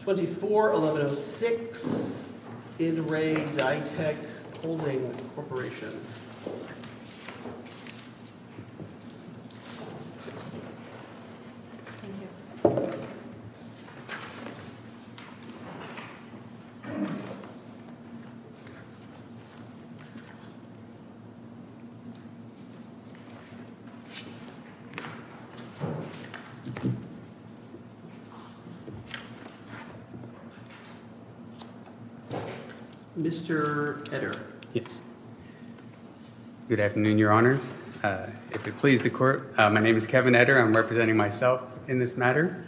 24-1106 In Re. Ditech Holding Corporation Mr. Etter. Yes. Good afternoon, your honors. If it pleases the court, my name is Kevin Etter. I'm representing myself in this matter.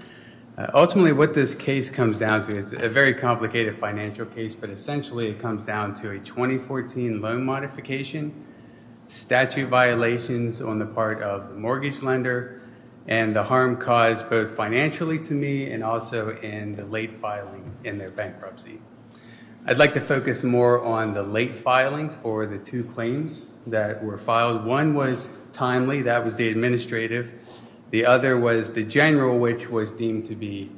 Ultimately, what this case comes down to is a very complicated financial case, but essentially it comes down to a 2014 loan modification. statute violations on the part of the mortgage lender, and the harm caused both financially to me and also in the late filing in their bankruptcy. I'd like to focus more on the late filing for the two claims that were filed. One was timely, that was the administrative. The other was the general, which was deemed to be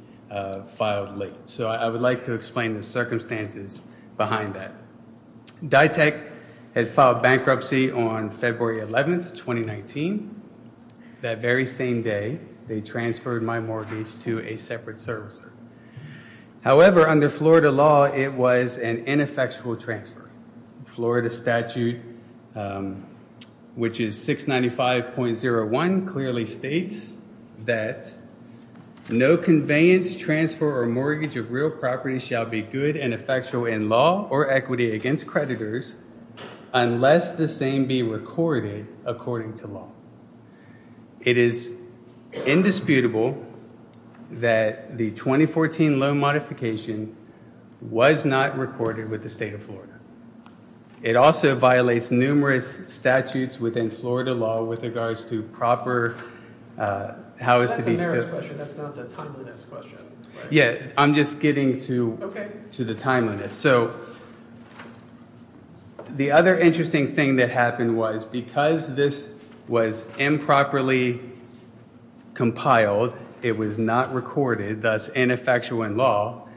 filed late. So I would like to explain the circumstances behind that. Ditech had filed bankruptcy on February 11th, 2019. That very same day, they transferred my mortgage to a separate servicer. However, under Florida law, it was an ineffectual transfer. Florida statute, which is 695.01, clearly states that no conveyance, transfer, or mortgage of real property shall be good and effectual in law or equity against creditors unless the same be recorded according to law. It is indisputable that the 2014 loan modification was not recorded with the state of Florida. It also violates numerous statutes within Florida law with regards to proper That's a merits question. That's not the timeliness question. The other interesting thing that happened was because this was improperly compiled, it was not recorded, thus ineffectual in law,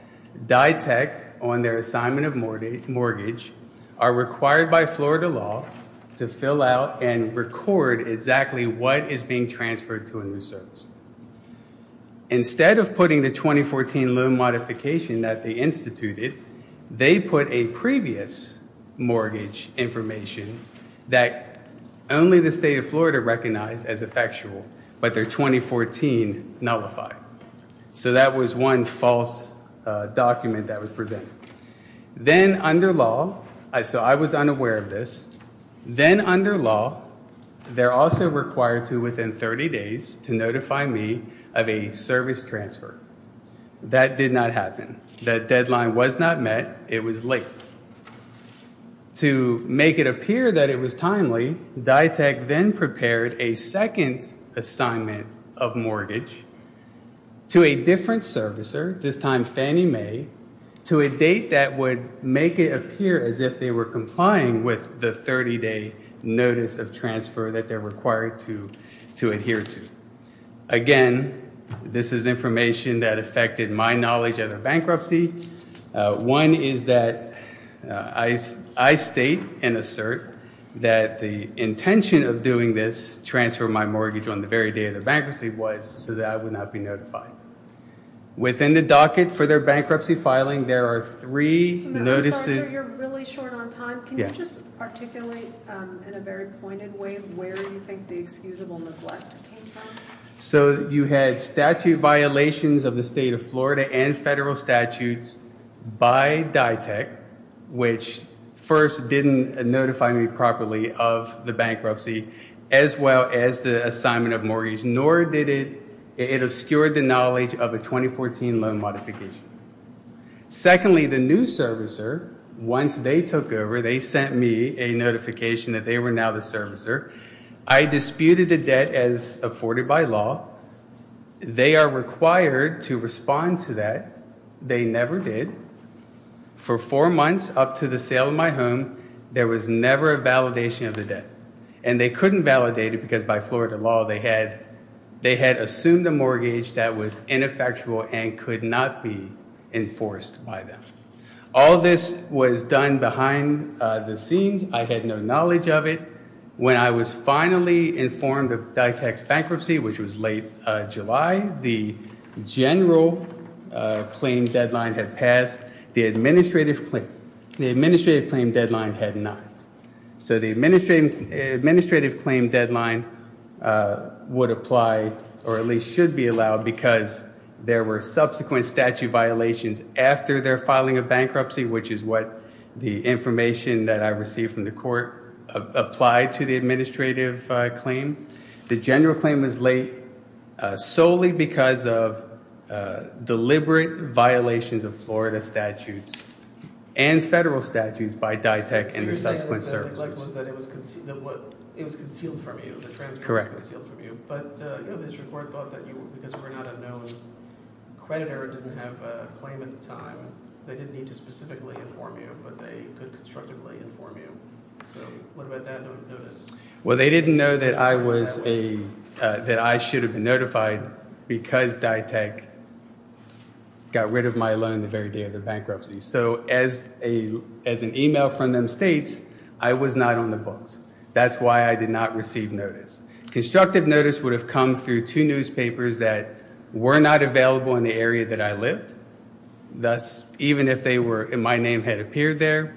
Ditech on their assignment of mortgage are required by Florida law to fill out and record exactly what is being transferred to a new service. Instead of putting the 2014 loan modification that they instituted, they put a previous mortgage information that only the state of Florida recognized as effectual, but their 2014 nullified. So that was one false document that was presented. I was unaware of this. Then under law, they're also required to, within 30 days, to notify me of a service transfer. That did not happen. That deadline was not met. It was late. To make it appear that it was timely, Ditech then prepared a second assignment of mortgage to a different servicer, this time Fannie Mae, to a date that would make it appear as if they were complying with the 30-day notice of transfer that they're required to adhere to. Again, this is information that affected my knowledge of the bankruptcy. One is that I state and assert that the intention of doing this transfer of my mortgage on the very day of the bankruptcy was so that I would not be notified. Within the docket for their bankruptcy filing, there are three notices. I'm sorry, sir. You're really short on time. Can you just articulate in a very pointed way where you think the excusable neglect came from? So you had statute violations of the state of Florida and federal statutes by Ditech, which first didn't notify me properly of the bankruptcy as well as the assignment of mortgage, nor did it obscure the knowledge of a 2014 loan modification. Secondly, the new servicer, once they took over, they sent me a notification that they were now the servicer. I disputed the debt as afforded by law. They are required to respond to that. They never did. For four months up to the sale of my home, there was never a validation of the debt. And they couldn't validate it because by Florida law, they had assumed a mortgage that was ineffectual and could not be enforced by them. All this was done behind the scenes. I had no knowledge of it. When I was finally informed of Ditech's bankruptcy, which was late July, the general claim deadline had passed. The administrative claim deadline had not. So the administrative claim deadline would apply, or at least should be allowed, because there were subsequent statute violations after their filing of bankruptcy, which is what the information that I received from the court applied to the administrative claim. The general claim was late solely because of deliberate violations of Florida statutes and federal statutes by Ditech and the subsequent servicers. What I'd like to know is that it was concealed from you. The transcript was concealed from you. But the district court thought that because you were not a known creditor and didn't have a claim at the time, they didn't need to specifically inform you, but they could constructively inform you. Well, they didn't know that I should have been notified because Ditech got rid of my loan the very day of the bankruptcy. So as an email from them states, I was not on the books. That's why I did not receive notice. Constructive notice would have come through two newspapers that were not available in the area that I lived. Thus, even if my name had appeared there,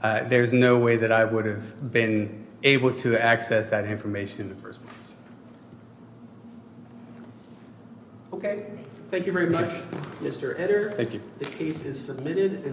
there's no way that I would have been able to access that information in the first place. Okay. Thank you very much, Mr. Edder. The case is submitted.